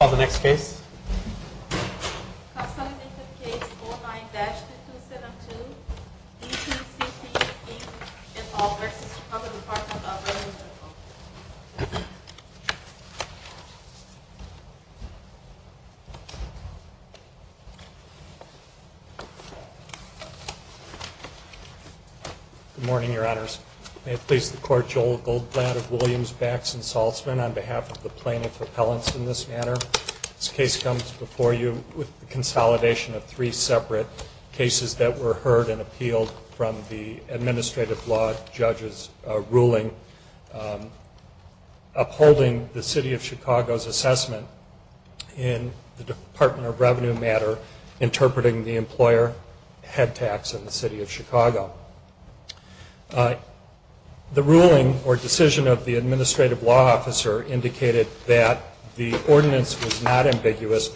Good morning, Your Honors. May it please the Court, Joel Goldblatt of Williams, Bax, and comes before you with the consolidation of three separate cases that were heard and appealed from the Administrative Law Judge's ruling upholding the City of Chicago's assessment in the Department of Revenue matter interpreting the employer head tax in the City of but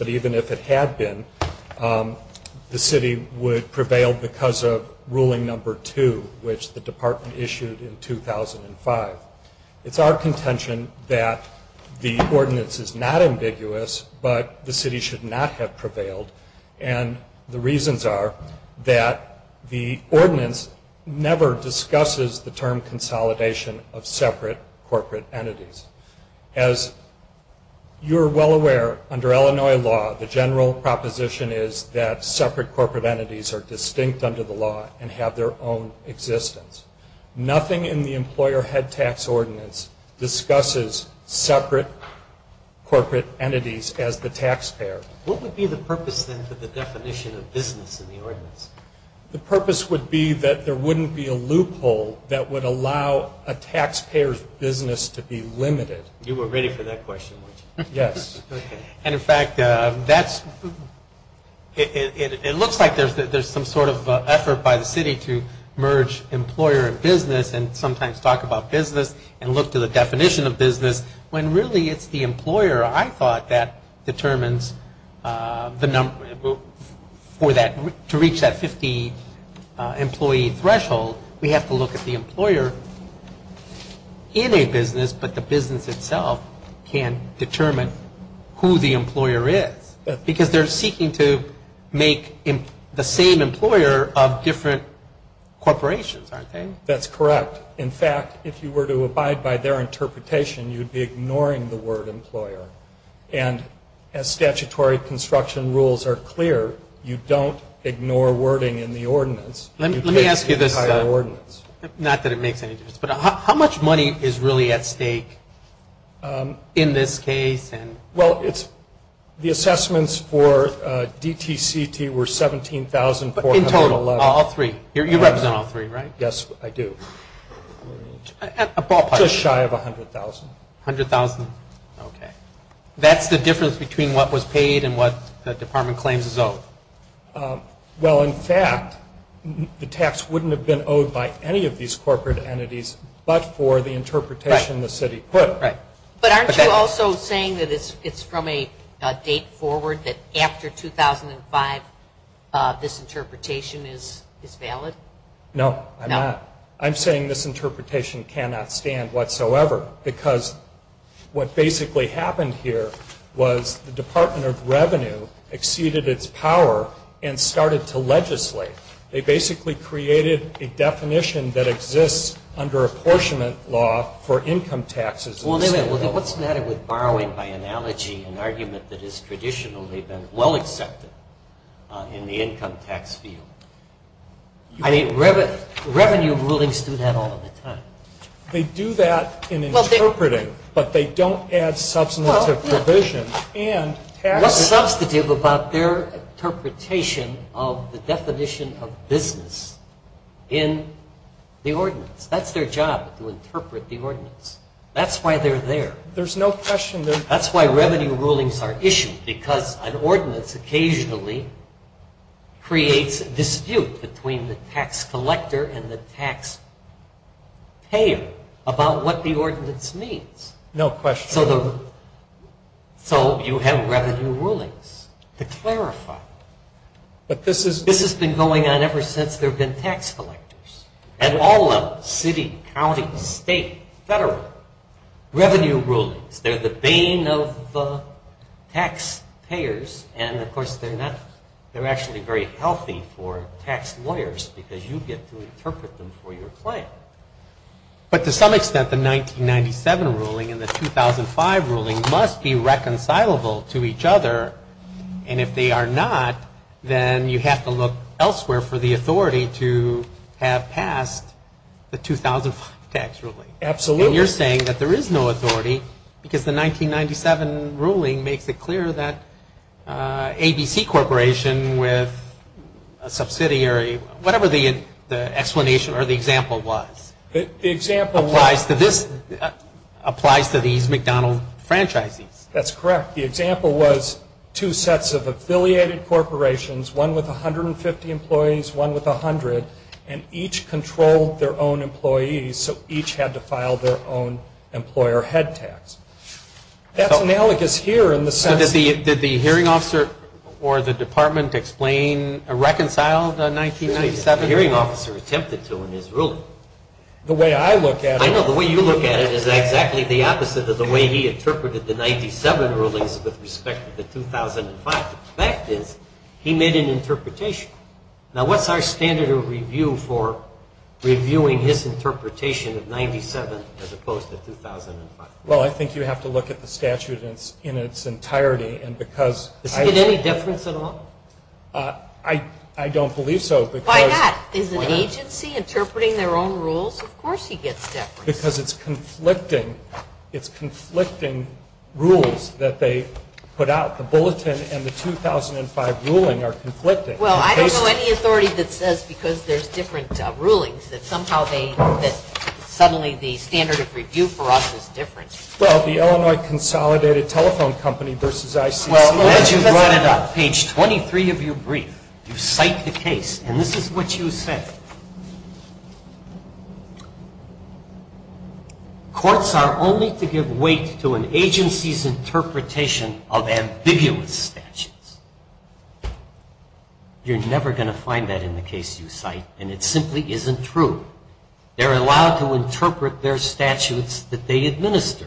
even if it had been, the City would prevail because of Ruling No. 2, which the Department issued in 2005. It's our contention that the ordinance is not ambiguous, but the City should not have prevailed, and the reasons are that the ordinance never discusses the term under Illinois law, the general proposition is that separate corporate entities are distinct under the law and have their own existence. Nothing in the employer head tax ordinance discusses separate corporate entities as the taxpayer. What would be the purpose, then, for the definition of business in the ordinance? The purpose would be that there wouldn't be a loophole that would allow a taxpayer's business to be limited. You were ready for that question, weren't you? Yes. And in fact, that's, it looks like there's some sort of effort by the City to merge employer and business and sometimes talk about business and look to the definition of business when really it's the employer, I thought, that determines the number for that, to reach that 50 employee threshold, we have to look at the employer in a business, but the business itself can't determine who the employer is. Because they're seeking to make the same employer of different corporations, aren't they? That's correct. In fact, if you were to abide by their interpretation, you'd be ignoring the word employer. And as statutory construction rules are clear, you don't ignore wording in the ordinance. Let me ask you this, not that it makes any difference, but how much money is really at stake in this case? Well, the assessments for DTCT were $17,411. In total, all three? You represent all three, right? Yes, I do. Just shy of $100,000. $100,000? Okay. That's the difference between what was paid and what the Department claims is owed? Well, in fact, the tax wouldn't have been owed by any of these corporate entities but for the interpretation the City put. But aren't you also saying that it's from a date forward, that after 2005, this interpretation is valid? No, I'm not. This interpretation cannot stand whatsoever because what basically happened here was the Department of Revenue exceeded its power and started to legislate. They basically created a definition that exists under apportionment law for income taxes. What's the matter with borrowing by analogy, an argument that has traditionally been well accepted in the income tax field? Revenue rulings do that all the time. They do that in interpreting, but they don't add substantive provision. What's substantive about their interpretation of the definition of business in the ordinance? That's their job, to interpret the ordinance. That's why they're there. There's no question. That's why revenue rulings are issued because an ordinance occasionally creates a dispute between the tax collector and the tax payer about what the ordinance means. No question. So you have revenue rulings to clarify. This has been going on ever since there have been tax collectors at all levels, city, county, state, federal. Revenue rulings, they're the bane of tax payers. And, of course, they're actually very healthy for tax lawyers because you get to interpret them for your client. But to some extent, the 1997 ruling and the 2005 ruling must be reconcilable to each other. And if they are not, then you have to look elsewhere for the authority to have passed the 2005 tax ruling. Absolutely. And you're saying that there is no authority because the 1997 ruling makes it clear that ABC Corporation with a subsidiary, whatever the explanation or the example was, applies to these McDonald franchises. That's correct. The example was two sets of affiliated corporations, one with 150 employees, one with 100, and each controlled their own employees, so each had to file their own employer head tax. That's analogous here in the sense that the hearing officer or the department explained, reconciled the 1997 ruling. The hearing officer attempted to in his ruling. The way I look at it. I know. The way you look at it is exactly the opposite of the way he interpreted the 1997 rulings with respect to the 2005. The fact is he made an interpretation. Now, what's our standard of review for reviewing his interpretation of 1997 as opposed to 2005? Well, I think you have to look at the statute in its entirety. Does he get any deference at all? I don't believe so. Why not? Is an agency interpreting their own rules? Of course he gets deference. Because it's conflicting. It's conflicting rules that they put out. The bulletin and the 2005 ruling are conflicting. Well, I don't know any authority that says because there's different rulings that somehow they, that suddenly the standard of review for us is different. Well, the Illinois Consolidated Telephone Company versus ICC. Well, as you brought it up, page 23 of your brief, you cite the case, and this is what you said. Courts are only to give weight to an agency's interpretation of ambiguous statutes. You're never going to find that in the case you cite, and it simply isn't true. They're allowed to interpret their statutes that they administer.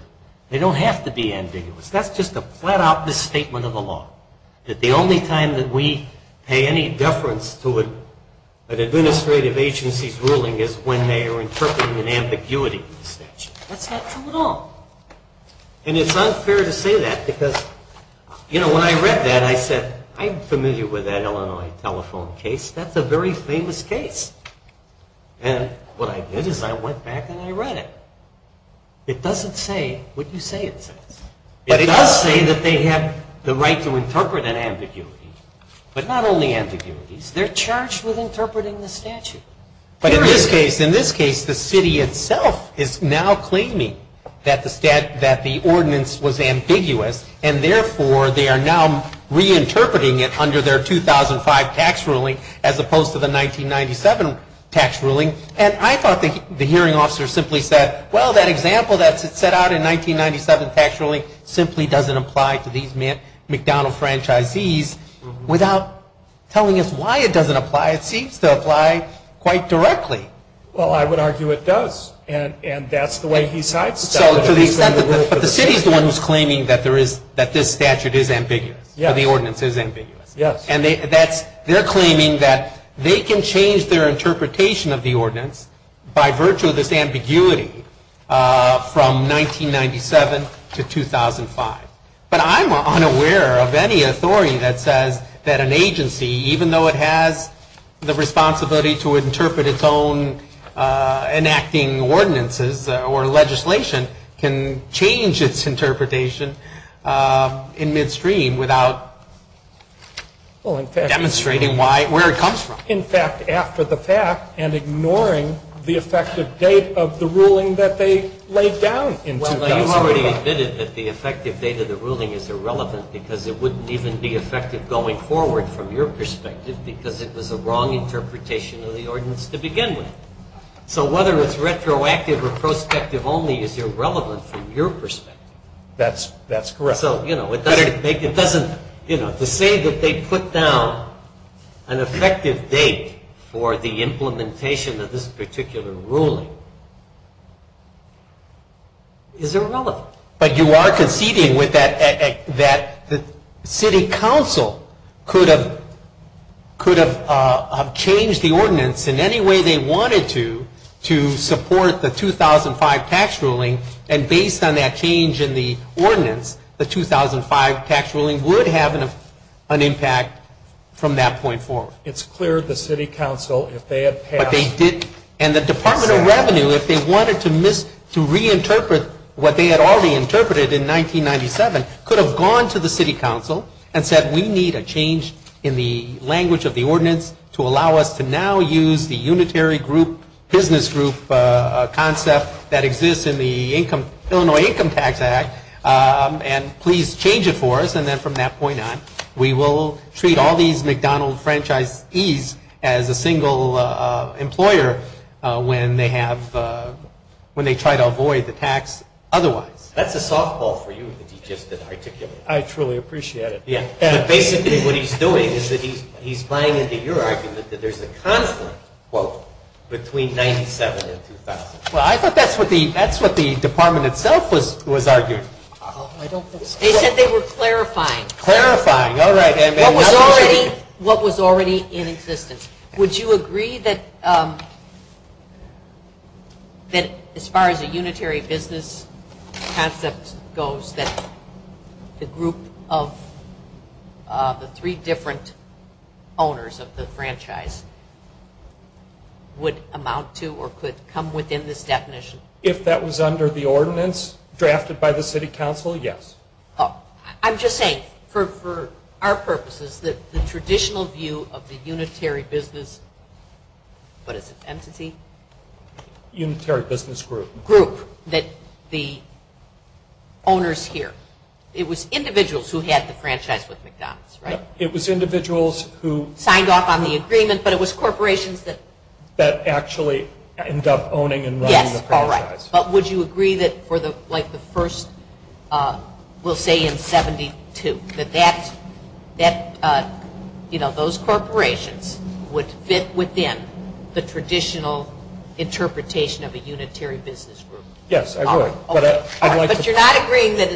They don't have to be ambiguous. That's just a flat-out misstatement of the law, that the only time that we pay any deference to an administrative agency's ruling is when they are interpreting an ambiguity in the statute. That's not true at all. And it's unfair to say that because, you know, when I read that, I said, I'm familiar with that Illinois telephone case. That's a very famous case. And what I did is I went back and I read it. It doesn't say what you say it says. It does say that they have the right to interpret an ambiguity. But not only ambiguities. They're charged with interpreting the statute. But in this case, the city itself is now claiming that the ordinance was ambiguous, and therefore they are now reinterpreting it under their 2005 tax ruling, as opposed to the 1997 tax ruling. And I thought the hearing officer simply said, well, that example that's set out in the 1997 tax ruling simply doesn't apply to these McDonald franchisees without telling us why it doesn't apply. It seems to apply quite directly. Well, I would argue it does. And that's the way he sidesteps it. But the city is the one who's claiming that this statute is ambiguous, or the ordinance is ambiguous. Yes. And they're claiming that they can change their interpretation of the ordinance by virtue of this ambiguity from 1997 to 2005. But I'm unaware of any authority that says that an agency, even though it has the responsibility to interpret its own enacting ordinances or legislation, can change its interpretation in midstream without demonstrating where it comes from. In fact, after the fact, and ignoring the effective date of the ruling that they laid down in 2005. Well, you've already admitted that the effective date of the ruling is irrelevant because it wouldn't even be effective going forward from your perspective because it was a wrong interpretation of the ordinance to begin with. So whether it's retroactive or prospective only is irrelevant from your perspective. That's correct. So, you know, to say that they put down an effective date for the implementation of this particular ruling is irrelevant. But you are conceding that the city council could have changed the ordinance in any way they wanted to to support the 2005 tax ruling. And based on that change in the ordinance, the 2005 tax ruling would have an impact from that point forward. It's clear the city council, if they had passed. But they didn't. And the Department of Revenue, if they wanted to reinterpret what they had already interpreted in 1997, could have gone to the city council and said we need a change in the language of the ordinance to allow us to now use the unitary group business group concept that exists in the Illinois Income Tax Act and please change it for us. And then from that point on, we will treat all these McDonald franchisees as a single employer when they try to avoid the tax otherwise. That's a softball for you that he just articulated. I truly appreciate it. But basically what he's doing is that he's buying into your argument that there's a conflict, quote, between 97 and 2000. Well, I thought that's what the department itself was arguing. They said they were clarifying. Clarifying, all right. What was already in existence. Would you agree that as far as a unitary business concept goes, that the group of the three different owners of the franchise would amount to or could come within this definition? If that was under the ordinance drafted by the city council, yes. I'm just saying for our purposes that the traditional view of the unitary business, what is it, entity? Unitary business group. Group that the owners here. It was individuals who had the franchise with McDonald's, right? It was individuals who. Signed off on the agreement, but it was corporations that. That actually end up owning and running the franchise. All right, but would you agree that for the first, we'll say in 72, that those corporations would fit within the traditional interpretation of a unitary business group? Yes, I would. But you're not agreeing that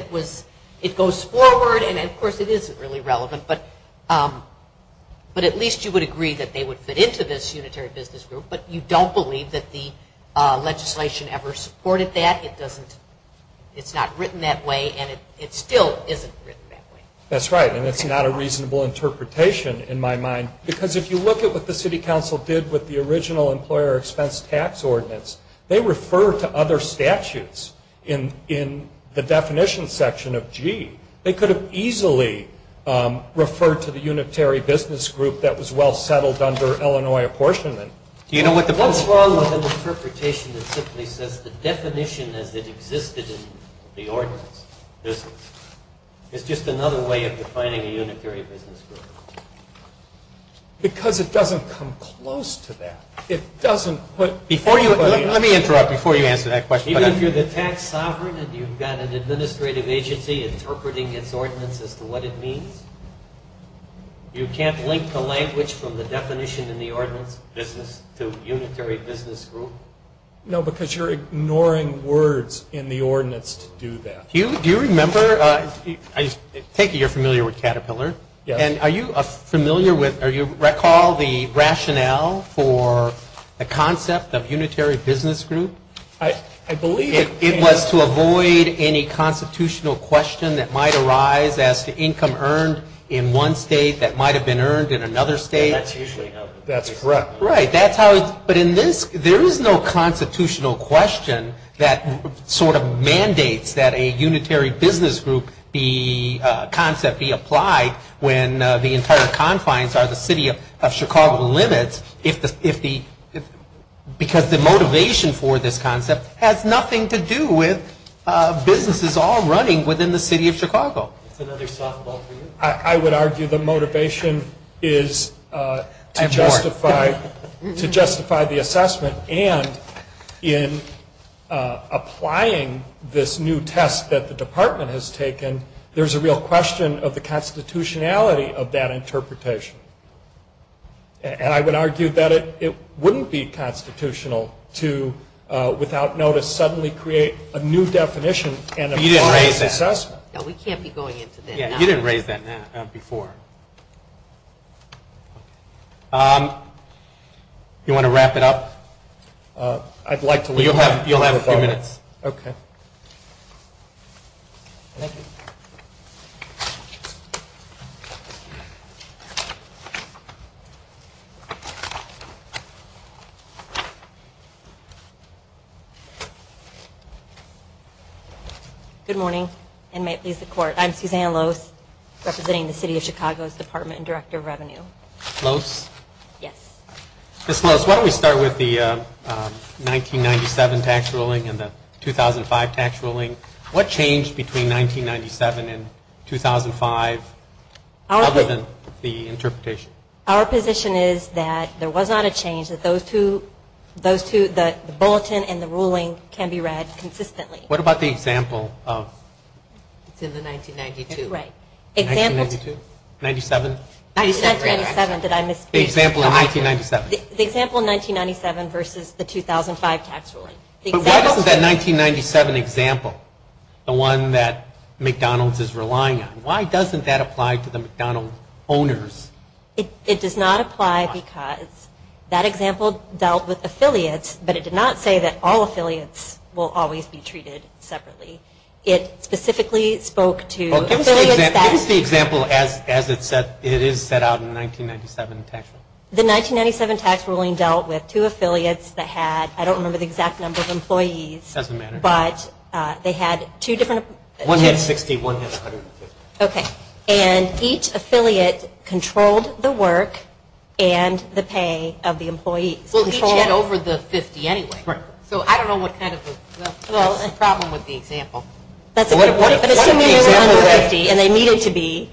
it goes forward and, of course, it isn't really relevant, but at least you would agree that they would fit into this unitary business group, but you don't believe that the legislation ever supported that. It doesn't. It's not written that way, and it still isn't written that way. That's right, and it's not a reasonable interpretation in my mind, because if you look at what the city council did with the original employer expense tax ordinance, they refer to other statutes in the definition section of G. They could have easily referred to the unitary business group that was well settled under Illinois apportionment. What's wrong with an interpretation that simply says the definition as it existed in the ordinance business? It's just another way of defining a unitary business group. Because it doesn't come close to that. Let me interrupt before you answer that question. Even if you're the tax sovereign and you've got an administrative agency interpreting its ordinance as to what it means, you can't link the language from the definition in the ordinance business to unitary business group? No, because you're ignoring words in the ordinance to do that. Hugh, do you remember – I take it you're familiar with Caterpillar. Yes. And are you familiar with – recall the rationale for the concept of unitary business group? I believe – It was to avoid any constitutional question that might arise as to income earned in one state that might have been earned in another state. That's correct. Right. But there is no constitutional question that sort of mandates that a unitary business group concept be applied when the entire confines are the city of Chicago limits, because the motivation for this concept has nothing to do with businesses all running within the city of Chicago. That's another softball for you. I would argue the motivation is to justify the assessment. And in applying this new test that the department has taken, there's a real question of the constitutionality of that interpretation. And I would argue that it wouldn't be constitutional to, without notice, suddenly create a new definition and a formal assessment. You didn't raise that. No, we can't be going into that now. You didn't raise that before. Do you want to wrap it up? I'd like to leave now. You'll have a few minutes. Okay. Thank you. Good morning, and may it please the Court. I'm Suzanne Lose, representing the City of Chicago's Department and Director of Revenue. Lose? Yes. Ms. Lose, why don't we start with the 1997 tax ruling and the 2005 tax ruling. What changed between 1997 and 2005 other than the interpretation? Our position is that there was not a change. The bulletin and the ruling can be read consistently. What about the example of? It's in the 1992. Right. Example? 1997? 1997. Did I miss? The example in 1997. The example in 1997 versus the 2005 tax ruling. But why doesn't that 1997 example, the one that McDonald's is relying on, why doesn't that apply to the McDonald's owners? It does not apply because that example dealt with affiliates, but it did not say that all affiliates will always be treated separately. It specifically spoke to affiliates that. Give us the example as it is set out in the 1997 tax ruling. The 1997 tax ruling dealt with two affiliates that had, I don't remember the exact number of employees. It doesn't matter. But they had two different. One had 60, one had 150. Okay. And each affiliate controlled the work and the pay of the employees. Well, each had over the 50 anyway. Right. So I don't know what kind of a problem with the example. But assuming they were 150 and they needed to be,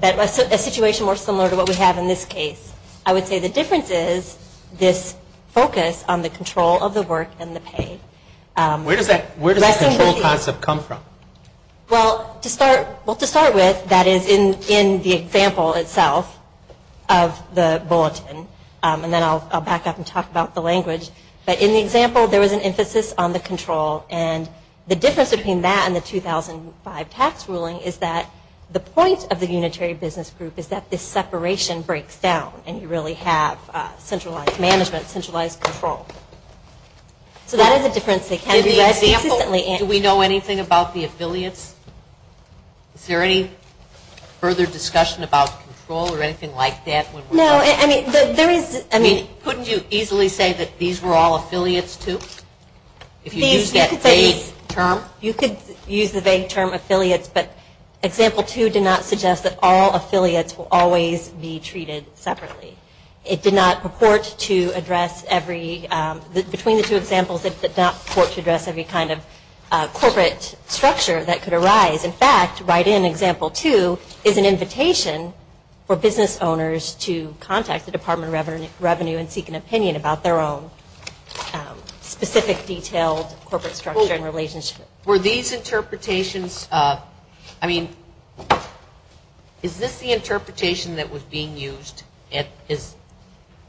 a situation more similar to what we have in this case, I would say the difference is this focus on the control of the work and the pay. Where does that control concept come from? Well, to start with, that is in the example itself of the bulletin, and then I'll back up and talk about the language. But in the example, there was an emphasis on the control. And the difference between that and the 2005 tax ruling is that the point of the unitary business group is that this separation breaks down and you really have centralized management, centralized control. So that is a difference that can be led consistently. In the example, do we know anything about the affiliates? Is there any further discussion about control or anything like that? No. I mean, couldn't you easily say that these were all affiliates too? If you used that vague term? You could use the vague term affiliates, but example two did not suggest that all affiliates will always be treated separately. It did not purport to address every, between the two examples, it did not purport to address every kind of corporate structure that could arise. In fact, right in example two is an invitation for business owners to contact the Department of Revenue and seek an opinion about their own specific detailed corporate structure and relationship. Were these interpretations, I mean, is this the interpretation that was being used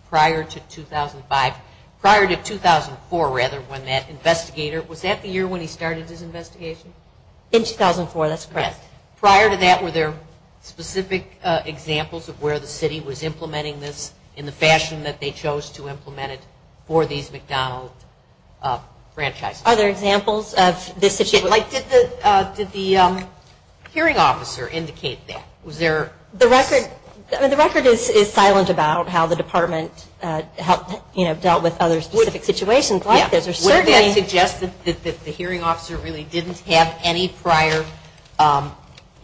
prior to 2005, prior to 2004 rather when that investigator, was that the year when he started his investigation? In 2004, that's correct. Prior to that, were there specific examples of where the city was implementing this in the fashion that they chose to implement it for these McDonald franchises? Are there examples of this situation? Did the hearing officer indicate that? The record is silent about how the department dealt with other specific situations like this. Would that suggest that the hearing officer really didn't have any prior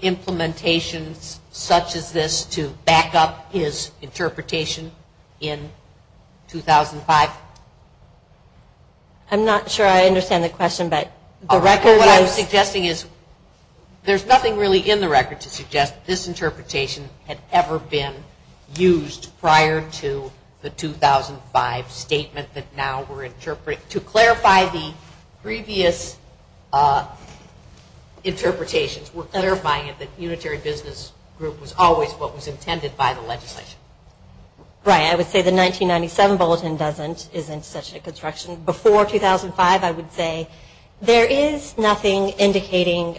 implementations such as this to back up his interpretation in 2005? I'm not sure I understand the question, but the record is. What I'm suggesting is there's nothing really in the record to suggest this interpretation had ever been used prior to the 2005 statement that now we're interpreting. To clarify the previous interpretations, we're clarifying it, that Unitary Business Group was always what was intended by the legislation. Right, I would say the 1997 bulletin isn't such a construction. Before 2005, I would say there is nothing indicating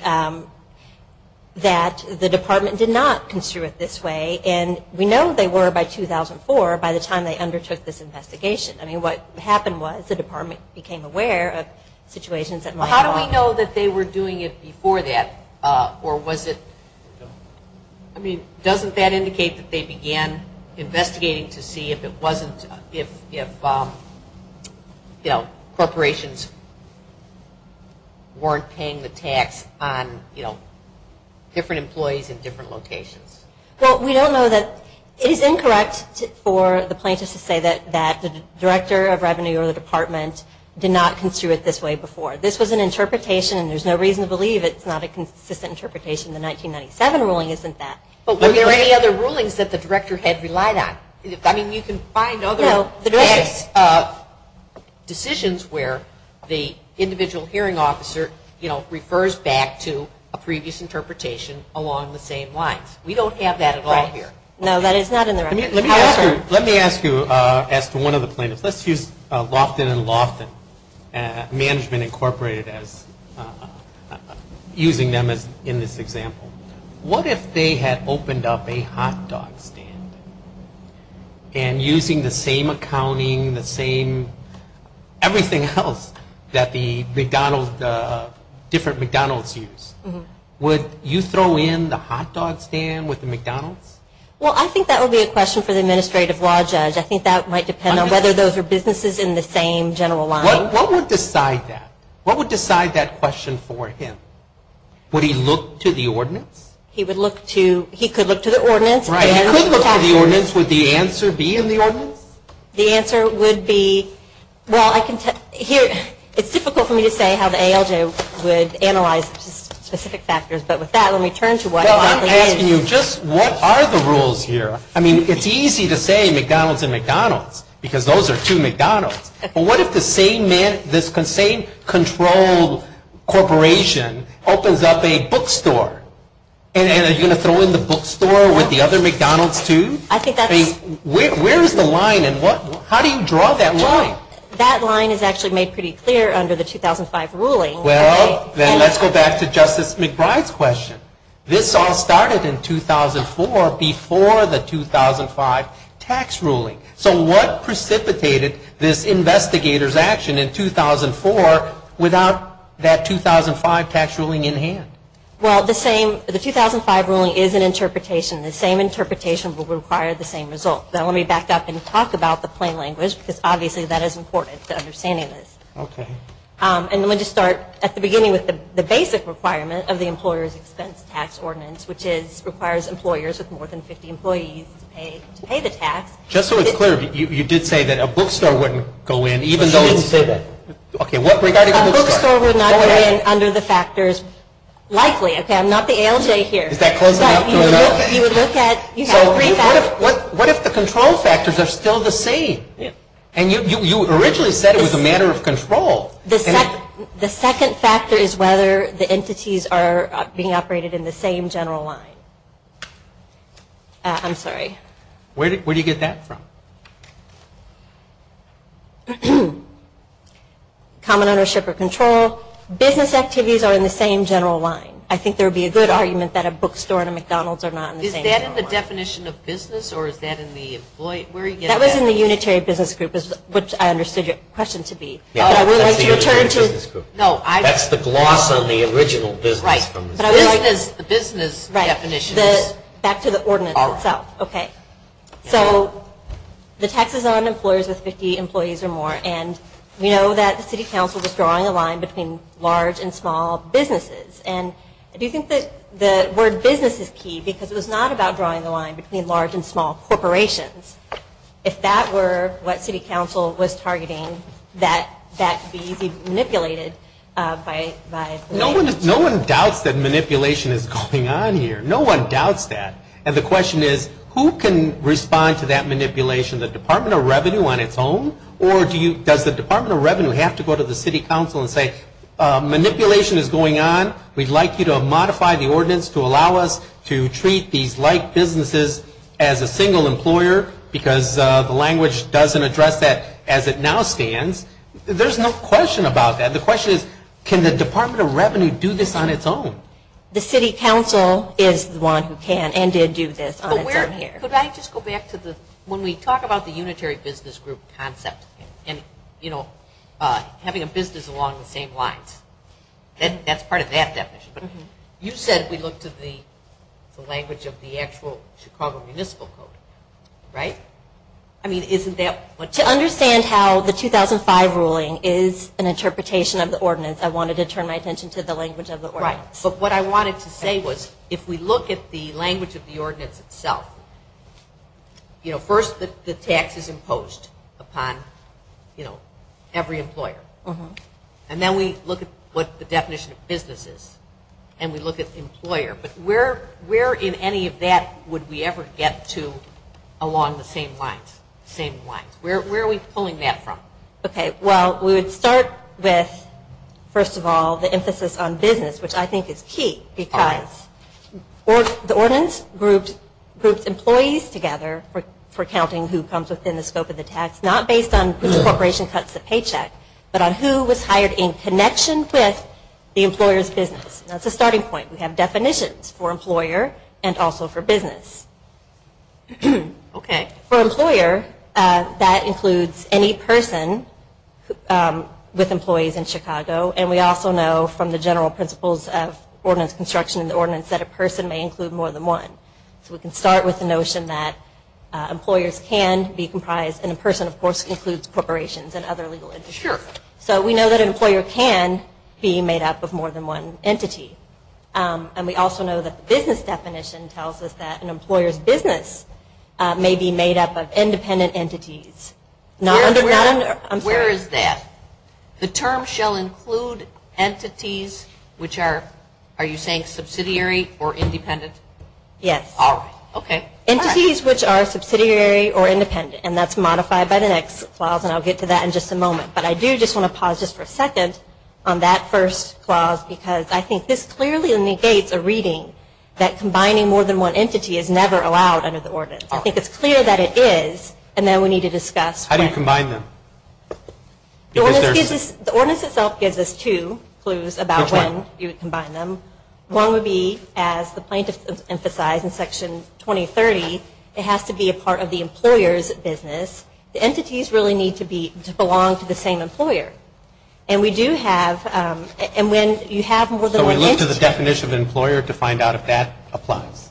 that the department did not construe it this way. And we know they were by 2004, by the time they undertook this investigation. I mean, what happened was the department became aware of situations that might have- How do we know that they were doing it before that? Or was it- I mean, doesn't that indicate that they began investigating to see if it wasn't- if, you know, corporations weren't paying the tax on, you know, different employees in different locations? Well, we don't know that- it is incorrect for the plaintiffs to say that the director of revenue or the department did not construe it this way before. This was an interpretation, and there's no reason to believe it's not a consistent interpretation. The 1997 ruling isn't that. But were there any other rulings that the director had relied on? I mean, you can find other- No, the director- Decisions where the individual hearing officer, you know, refers back to a previous interpretation along the same lines. We don't have that at all here. No, that is not in the- Let me ask you, as to one of the plaintiffs, let's use Loftin and Loftin, Management Incorporated as- using them as- in this example. What if they had opened up a hot dog stand and using the same accounting, the same- everything else that the McDonald's- different McDonald's use? Would you throw in the hot dog stand with the McDonald's? Well, I think that would be a question for the administrative law judge. I think that might depend on whether those are businesses in the same general line. What would decide that? What would decide that question for him? Would he look to the ordinance? He would look to- he could look to the ordinance. Right. He could look to the ordinance. Would the answer be in the ordinance? The answer would be- well, I can tell- here- it's difficult for me to say how the ALJ would analyze specific factors. But with that, let me turn to what- Well, I'm asking you just what are the rules here? I mean, it's easy to say McDonald's and McDonald's because those are two McDonald's. But what if the same- this same controlled corporation opens up a bookstore? And are you going to throw in the bookstore with the other McDonald's too? I think that's- Where is the line and what- how do you draw that line? That line is actually made pretty clear under the 2005 ruling. Well, then let's go back to Justice McBride's question. This all started in 2004 before the 2005 tax ruling. So what precipitated this investigator's action in 2004 without that 2005 tax ruling in hand? Well, the same- the 2005 ruling is an interpretation. The same interpretation will require the same result. Now, let me back up and talk about the plain language because obviously that is important to understanding this. Okay. And let me just start at the beginning with the basic requirement of the employer's expense tax ordinance, which is- requires employers with more than 50 employees to pay the tax. Just so it's clear, you did say that a bookstore wouldn't go in even though it's- But she didn't say that. Okay, what- A bookstore would not go in under the factors likely. Okay, I'm not the ALJ here. Is that close enough? You would look at- you have three factors. What if the control factors are still the same? Yeah. And you originally said it was a matter of control. The second factor is whether the entities are being operated in the same general line. I'm sorry. Where do you get that from? Common ownership or control. Business activities are in the same general line. I think there would be a good argument that a bookstore and a McDonald's are not in the same general line. Is that in the definition of business or is that in the employee- where do you get that? That was in the unitary business group, which I understood your question to be. But I would like to return to- That's the gloss on the original business. Right, but I would like- The business definition is- Back to the ordinance itself. All right. Okay. So the tax is on employers with 50 employees or more. And we know that the city council was drawing a line between large and small businesses. And do you think that the word business is key because it was not about drawing the line between large and small corporations. If that were what city council was targeting, that would be manipulated by- No one doubts that manipulation is going on here. No one doubts that. And the question is, who can respond to that manipulation? The Department of Revenue on its own? Or does the Department of Revenue have to go to the city council and say, because the language doesn't address that as it now stands. There's no question about that. The question is, can the Department of Revenue do this on its own? The city council is the one who can and did do this on its own here. Could I just go back to the- When we talk about the unitary business group concept and having a business along the same lines, that's part of that definition. You said we look to the language of the actual Chicago Municipal Code, right? I mean, isn't that- To understand how the 2005 ruling is an interpretation of the ordinance, I wanted to turn my attention to the language of the ordinance. Right. But what I wanted to say was, if we look at the language of the ordinance itself, you know, first the tax is imposed upon, you know, every employer. And then we look at what the definition of business is. And we look at employer. But where in any of that would we ever get to along the same lines? Where are we pulling that from? Okay. Well, we would start with, first of all, the emphasis on business, which I think is key. Because the ordinance groups employees together for counting who comes within the scope of the tax, not based on which corporation cuts the paycheck, but on who was hired in connection with the employer's business. That's a starting point. We have definitions for employer and also for business. Okay. For employer, that includes any person with employees in Chicago. And we also know from the general principles of ordinance construction and the ordinance that a person may include more than one. So we can start with the notion that employers can be comprised, and a person, of course, includes corporations and other legal entities. Sure. So we know that an employer can be made up of more than one entity. And we also know that the business definition tells us that an employer's business may be made up of independent entities. Where is that? The term shall include entities which are, are you saying subsidiary or independent? Yes. All right. Okay. Entities which are subsidiary or independent. And that's modified by the next clause, and I'll get to that in just a moment. But I do just want to pause just for a second on that first clause, because I think this clearly negates a reading that combining more than one entity is never allowed under the ordinance. I think it's clear that it is, and then we need to discuss when. How do you combine them? The ordinance itself gives us two clues about when you would combine them. One would be, as the plaintiff emphasized in Section 2030, it has to be a part of the employer's business. The entities really need to belong to the same employer. And we do have, and when you have more than one entity. So we look to the definition of employer to find out if that applies,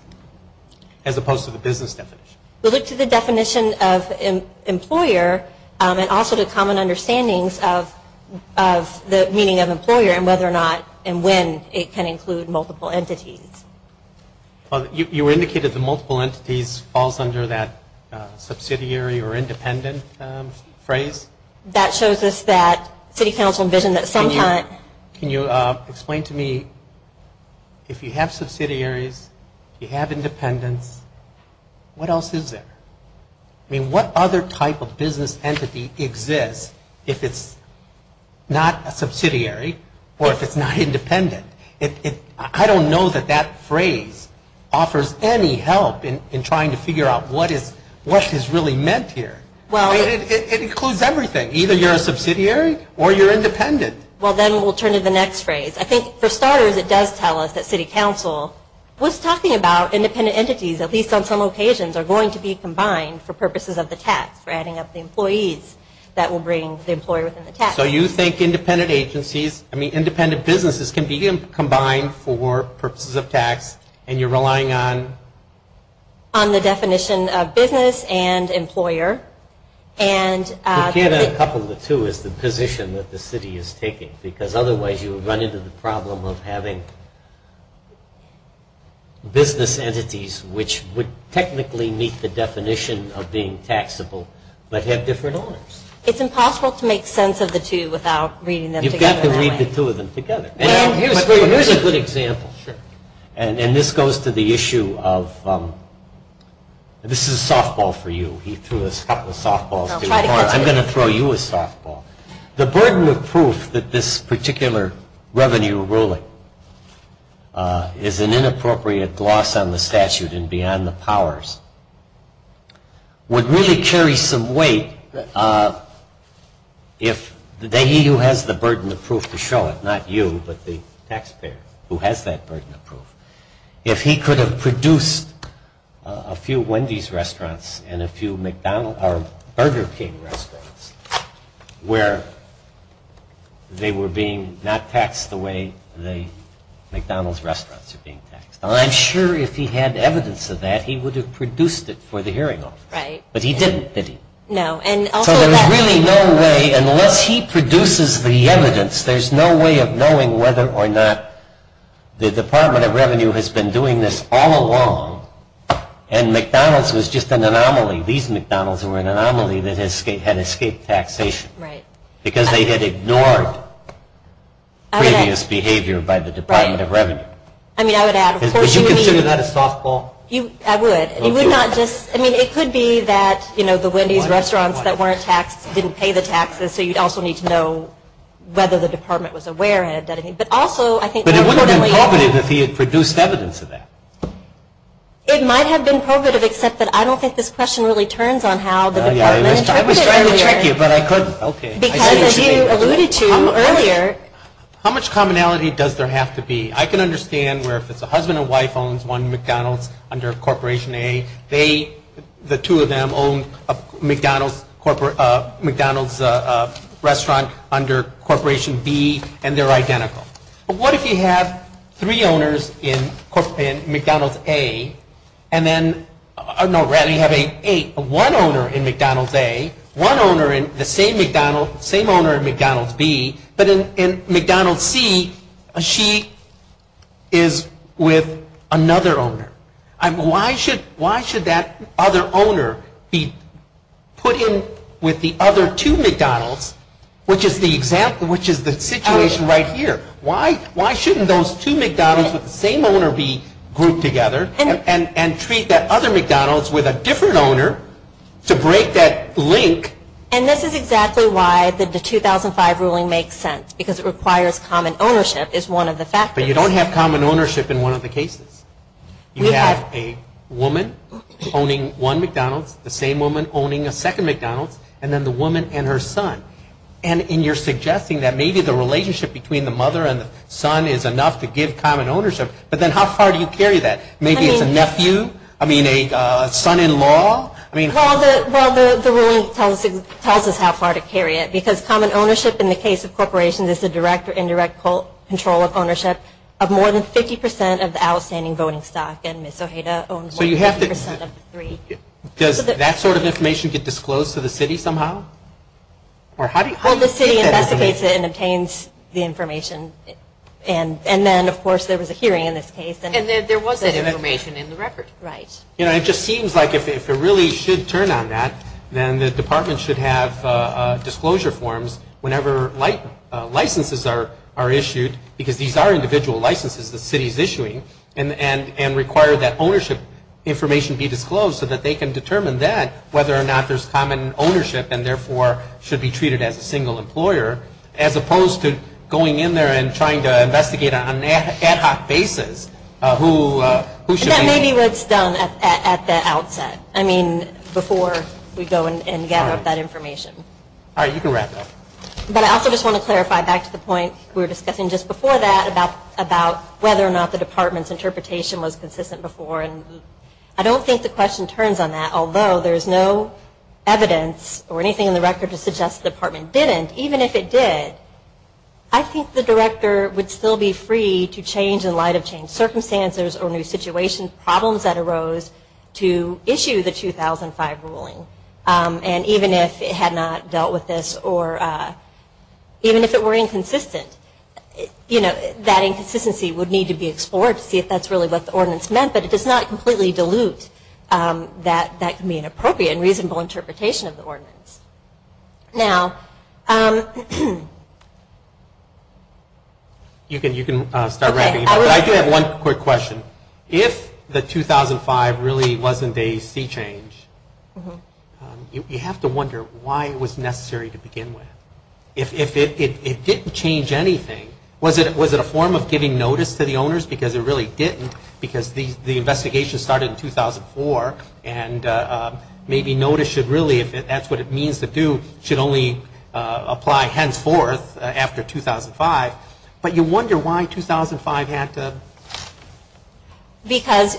as opposed to the business definition. We look to the definition of employer, and also to common understandings of the meaning of employer, and whether or not and when it can include multiple entities. Well, you indicated the multiple entities falls under that subsidiary or independent phrase. That shows us that City Council envisioned that sometime. Can you explain to me, if you have subsidiaries, if you have independents, what else is there? I mean, what other type of business entity exists if it's not a subsidiary or if it's not independent? I don't know that that phrase offers any help in trying to figure out what is really meant here. It includes everything. Either you're a subsidiary or you're independent. Well, then we'll turn to the next phrase. I think, for starters, it does tell us that City Council was talking about independent entities, at least on some occasions, are going to be combined for purposes of the tax, for adding up the employees. That will bring the employer within the tax. So you think independent businesses can be combined for purposes of tax, and you're relying on? On the definition of business and employer. You can't have a couple of the two as the position that the city is taking, because otherwise you would run into the problem of having business entities which would technically meet the definition of being taxable, but have different owners. It's impossible to make sense of the two without reading them together, right? You've got to read the two of them together. Here's a good example. And this goes to the issue of, this is a softball for you. He threw us a couple of softballs. I'm going to throw you a softball. The burden of proof that this particular revenue ruling is an inappropriate gloss on the statute and beyond the powers would really carry some weight if he who has the burden of proof to show it, not you, but the taxpayer who has that burden of proof, if he could have produced a few Wendy's restaurants and a few Burger King restaurants where they were being not taxed the way McDonald's restaurants are being taxed. I'm sure if he had evidence of that, he would have produced it for the hearing office. Right. But he didn't, did he? No. So there's really no way, unless he produces the evidence, there's no way of knowing whether or not the Department of Revenue has been doing this all along and McDonald's was just an anomaly. These McDonald's were an anomaly that had escaped taxation. Right. Because they had ignored previous behavior by the Department of Revenue. Right. I mean, I would add, of course, you need... Would you consider that a softball? I would. You would not just, I mean, it could be that, you know, the Wendy's restaurants that weren't taxed didn't pay the taxes, so you'd also need to know whether the Department was aware of it. But also, I think... But it wouldn't have been proven if he had produced evidence of that. It might have been provative, except that I don't think this question really turns on how the Department interpreted it earlier. I was trying to trick you, but I couldn't. Okay. Because as you alluded to earlier... How much commonality does there have to be? I can understand where if it's a husband and wife owns one McDonald's under Corporation A, they, the two of them, own a McDonald's restaurant under Corporation B, and they're identical. But what if you have three owners in McDonald's A, and then... No, we have one owner in McDonald's A, one owner in the same McDonald's, same owner in McDonald's B, but in McDonald's C, she is with another owner. Why should that other owner be put in with the other two McDonald's, which is the situation right here? Why shouldn't those two McDonald's with the same owner be grouped together and treat that other McDonald's with a different owner to break that link? And this is exactly why the 2005 ruling makes sense, because it requires common ownership is one of the factors. But you don't have common ownership in one of the cases. You have a woman owning one McDonald's, the same woman owning a second McDonald's, and then the woman and her son. And you're suggesting that maybe the relationship between the mother and the son is enough to give common ownership, but then how far do you carry that? Maybe it's a nephew? I mean, a son-in-law? Well, the ruling tells us how far to carry it, because common ownership in the case of corporations is the direct or indirect control of ownership of more than 50% of the outstanding voting stock, and Ms. Ojeda owns 50% of the three. Does that sort of information get disclosed to the city somehow? Well, the city investigates it and obtains the information. And then, of course, there was a hearing in this case. And there was that information in the record. Right. You know, it just seems like if it really should turn on that, then the department should have disclosure forms whenever licenses are issued, because these are individual licenses the city is issuing, and require that ownership information be disclosed so that they can determine that, whether or not there's common ownership and therefore should be treated as a single employer, as opposed to going in there and trying to investigate on an ad hoc basis who should be. And that may be what's done at the outset. I mean, before we go and gather up that information. All right. You can wrap up. But I also just want to clarify back to the point we were discussing just before that about whether or not the department's interpretation was consistent before. And I don't think the question turns on that, although there's no evidence or anything in the record to suggest the department didn't. Even if it did, I think the director would still be free to change in light of changed circumstances or new situations, problems that arose, to issue the 2005 ruling. And even if it had not dealt with this, or even if it were inconsistent, you know, that inconsistency would need to be explored to see if that's really what the ordinance meant. But it does not completely dilute that that could be an appropriate and reasonable interpretation of the ordinance. Now, you can start wrapping it up. But I do have one quick question. If the 2005 really wasn't a sea change, you have to wonder why it was necessary to begin with. If it didn't change anything, was it a form of giving notice to the owners? Because it really didn't, because the investigation started in 2004, and maybe notice should really, if that's what it means to do, should only apply henceforth after 2005. But you wonder why 2005 had to... Because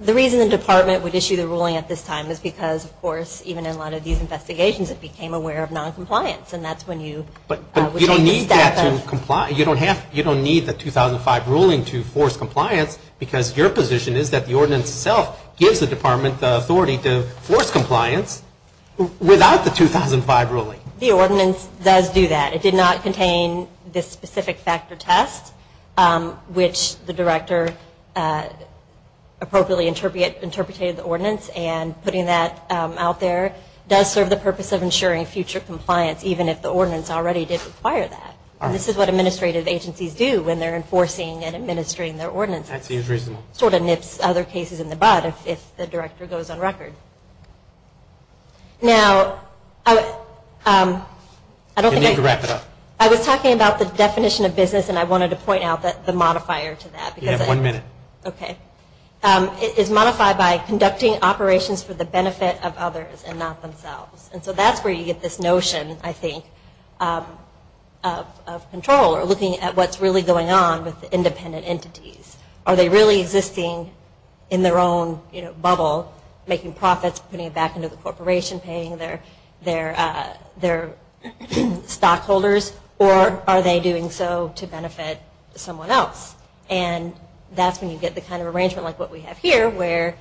the reason the department would issue the ruling at this time is because, of course, even in a lot of these investigations, it became aware of noncompliance. And that's when you... But you don't need that to comply. You don't need the 2005 ruling to force compliance because your position is that the ordinance itself gives the department the authority to force compliance without the 2005 ruling. The ordinance does do that. It did not contain this specific factor test, which the director appropriately interpreted the ordinance, and putting that out there does serve the purpose of ensuring future compliance, even if the ordinance already did require that. This is what administrative agencies do when they're enforcing and administering their ordinances. That seems reasonable. Sort of nips other cases in the bud if the director goes on record. Now, I don't think I... You need to wrap it up. I was talking about the definition of business, and I wanted to point out the modifier to that. You have one minute. Okay. It is modified by conducting operations for the benefit of others and not themselves. And so that's where you get this notion, I think, of control, or looking at what's really going on with independent entities. Are they really existing in their own bubble, making profits, putting it back into the corporation, paying their stockholders, or are they doing so to benefit someone else? And that's when you get the kind of arrangement like what we have here, where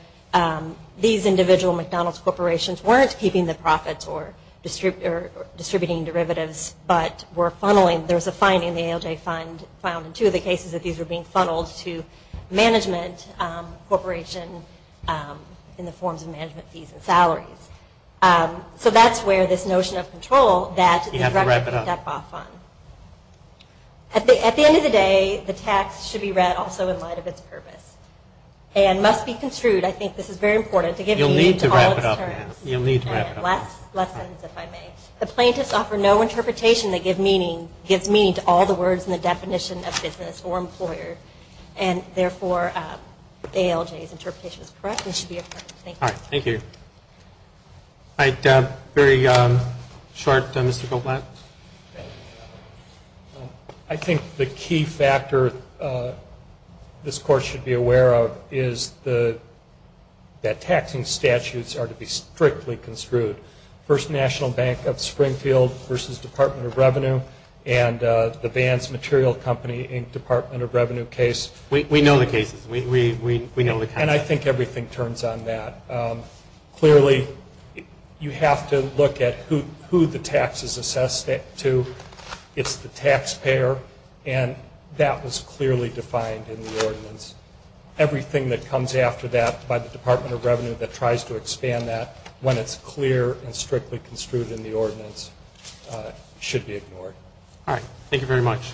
these individual McDonald's corporations weren't keeping the profits or distributing derivatives, but were funneling. There was a finding in the ALJ fund found in two of the cases that these were being funneled to management corporation in the forms of management fees and salaries. So that's where this notion of control that the director picked up off on. You have to wrap it up. At the end of the day, the text should be read also in light of its purpose. And must be construed, I think this is very important, to give meaning to all its terms. You'll need to wrap it up. Lessons, if I may. The plaintiffs offer no interpretation that gives meaning to all the words in the definition of business or employer, and therefore the ALJ's interpretation is correct and should be affirmed. Thank you. All right. Thank you. All right. Very short, Mr. Goldblatt. I think the key factor this Court should be aware of is that taxing statutes are to be strictly construed. First National Bank of Springfield versus Department of Revenue, and the Vance Material Company Inc. Department of Revenue case. We know the cases. We know the cases. And I think everything turns on that. Clearly, you have to look at who the tax is assessed to. It's the taxpayer. And that was clearly defined in the ordinance. Everything that comes after that by the Department of Revenue that tries to expand that, when it's clear and strictly construed in the ordinance, should be ignored. All right. Thank you very much.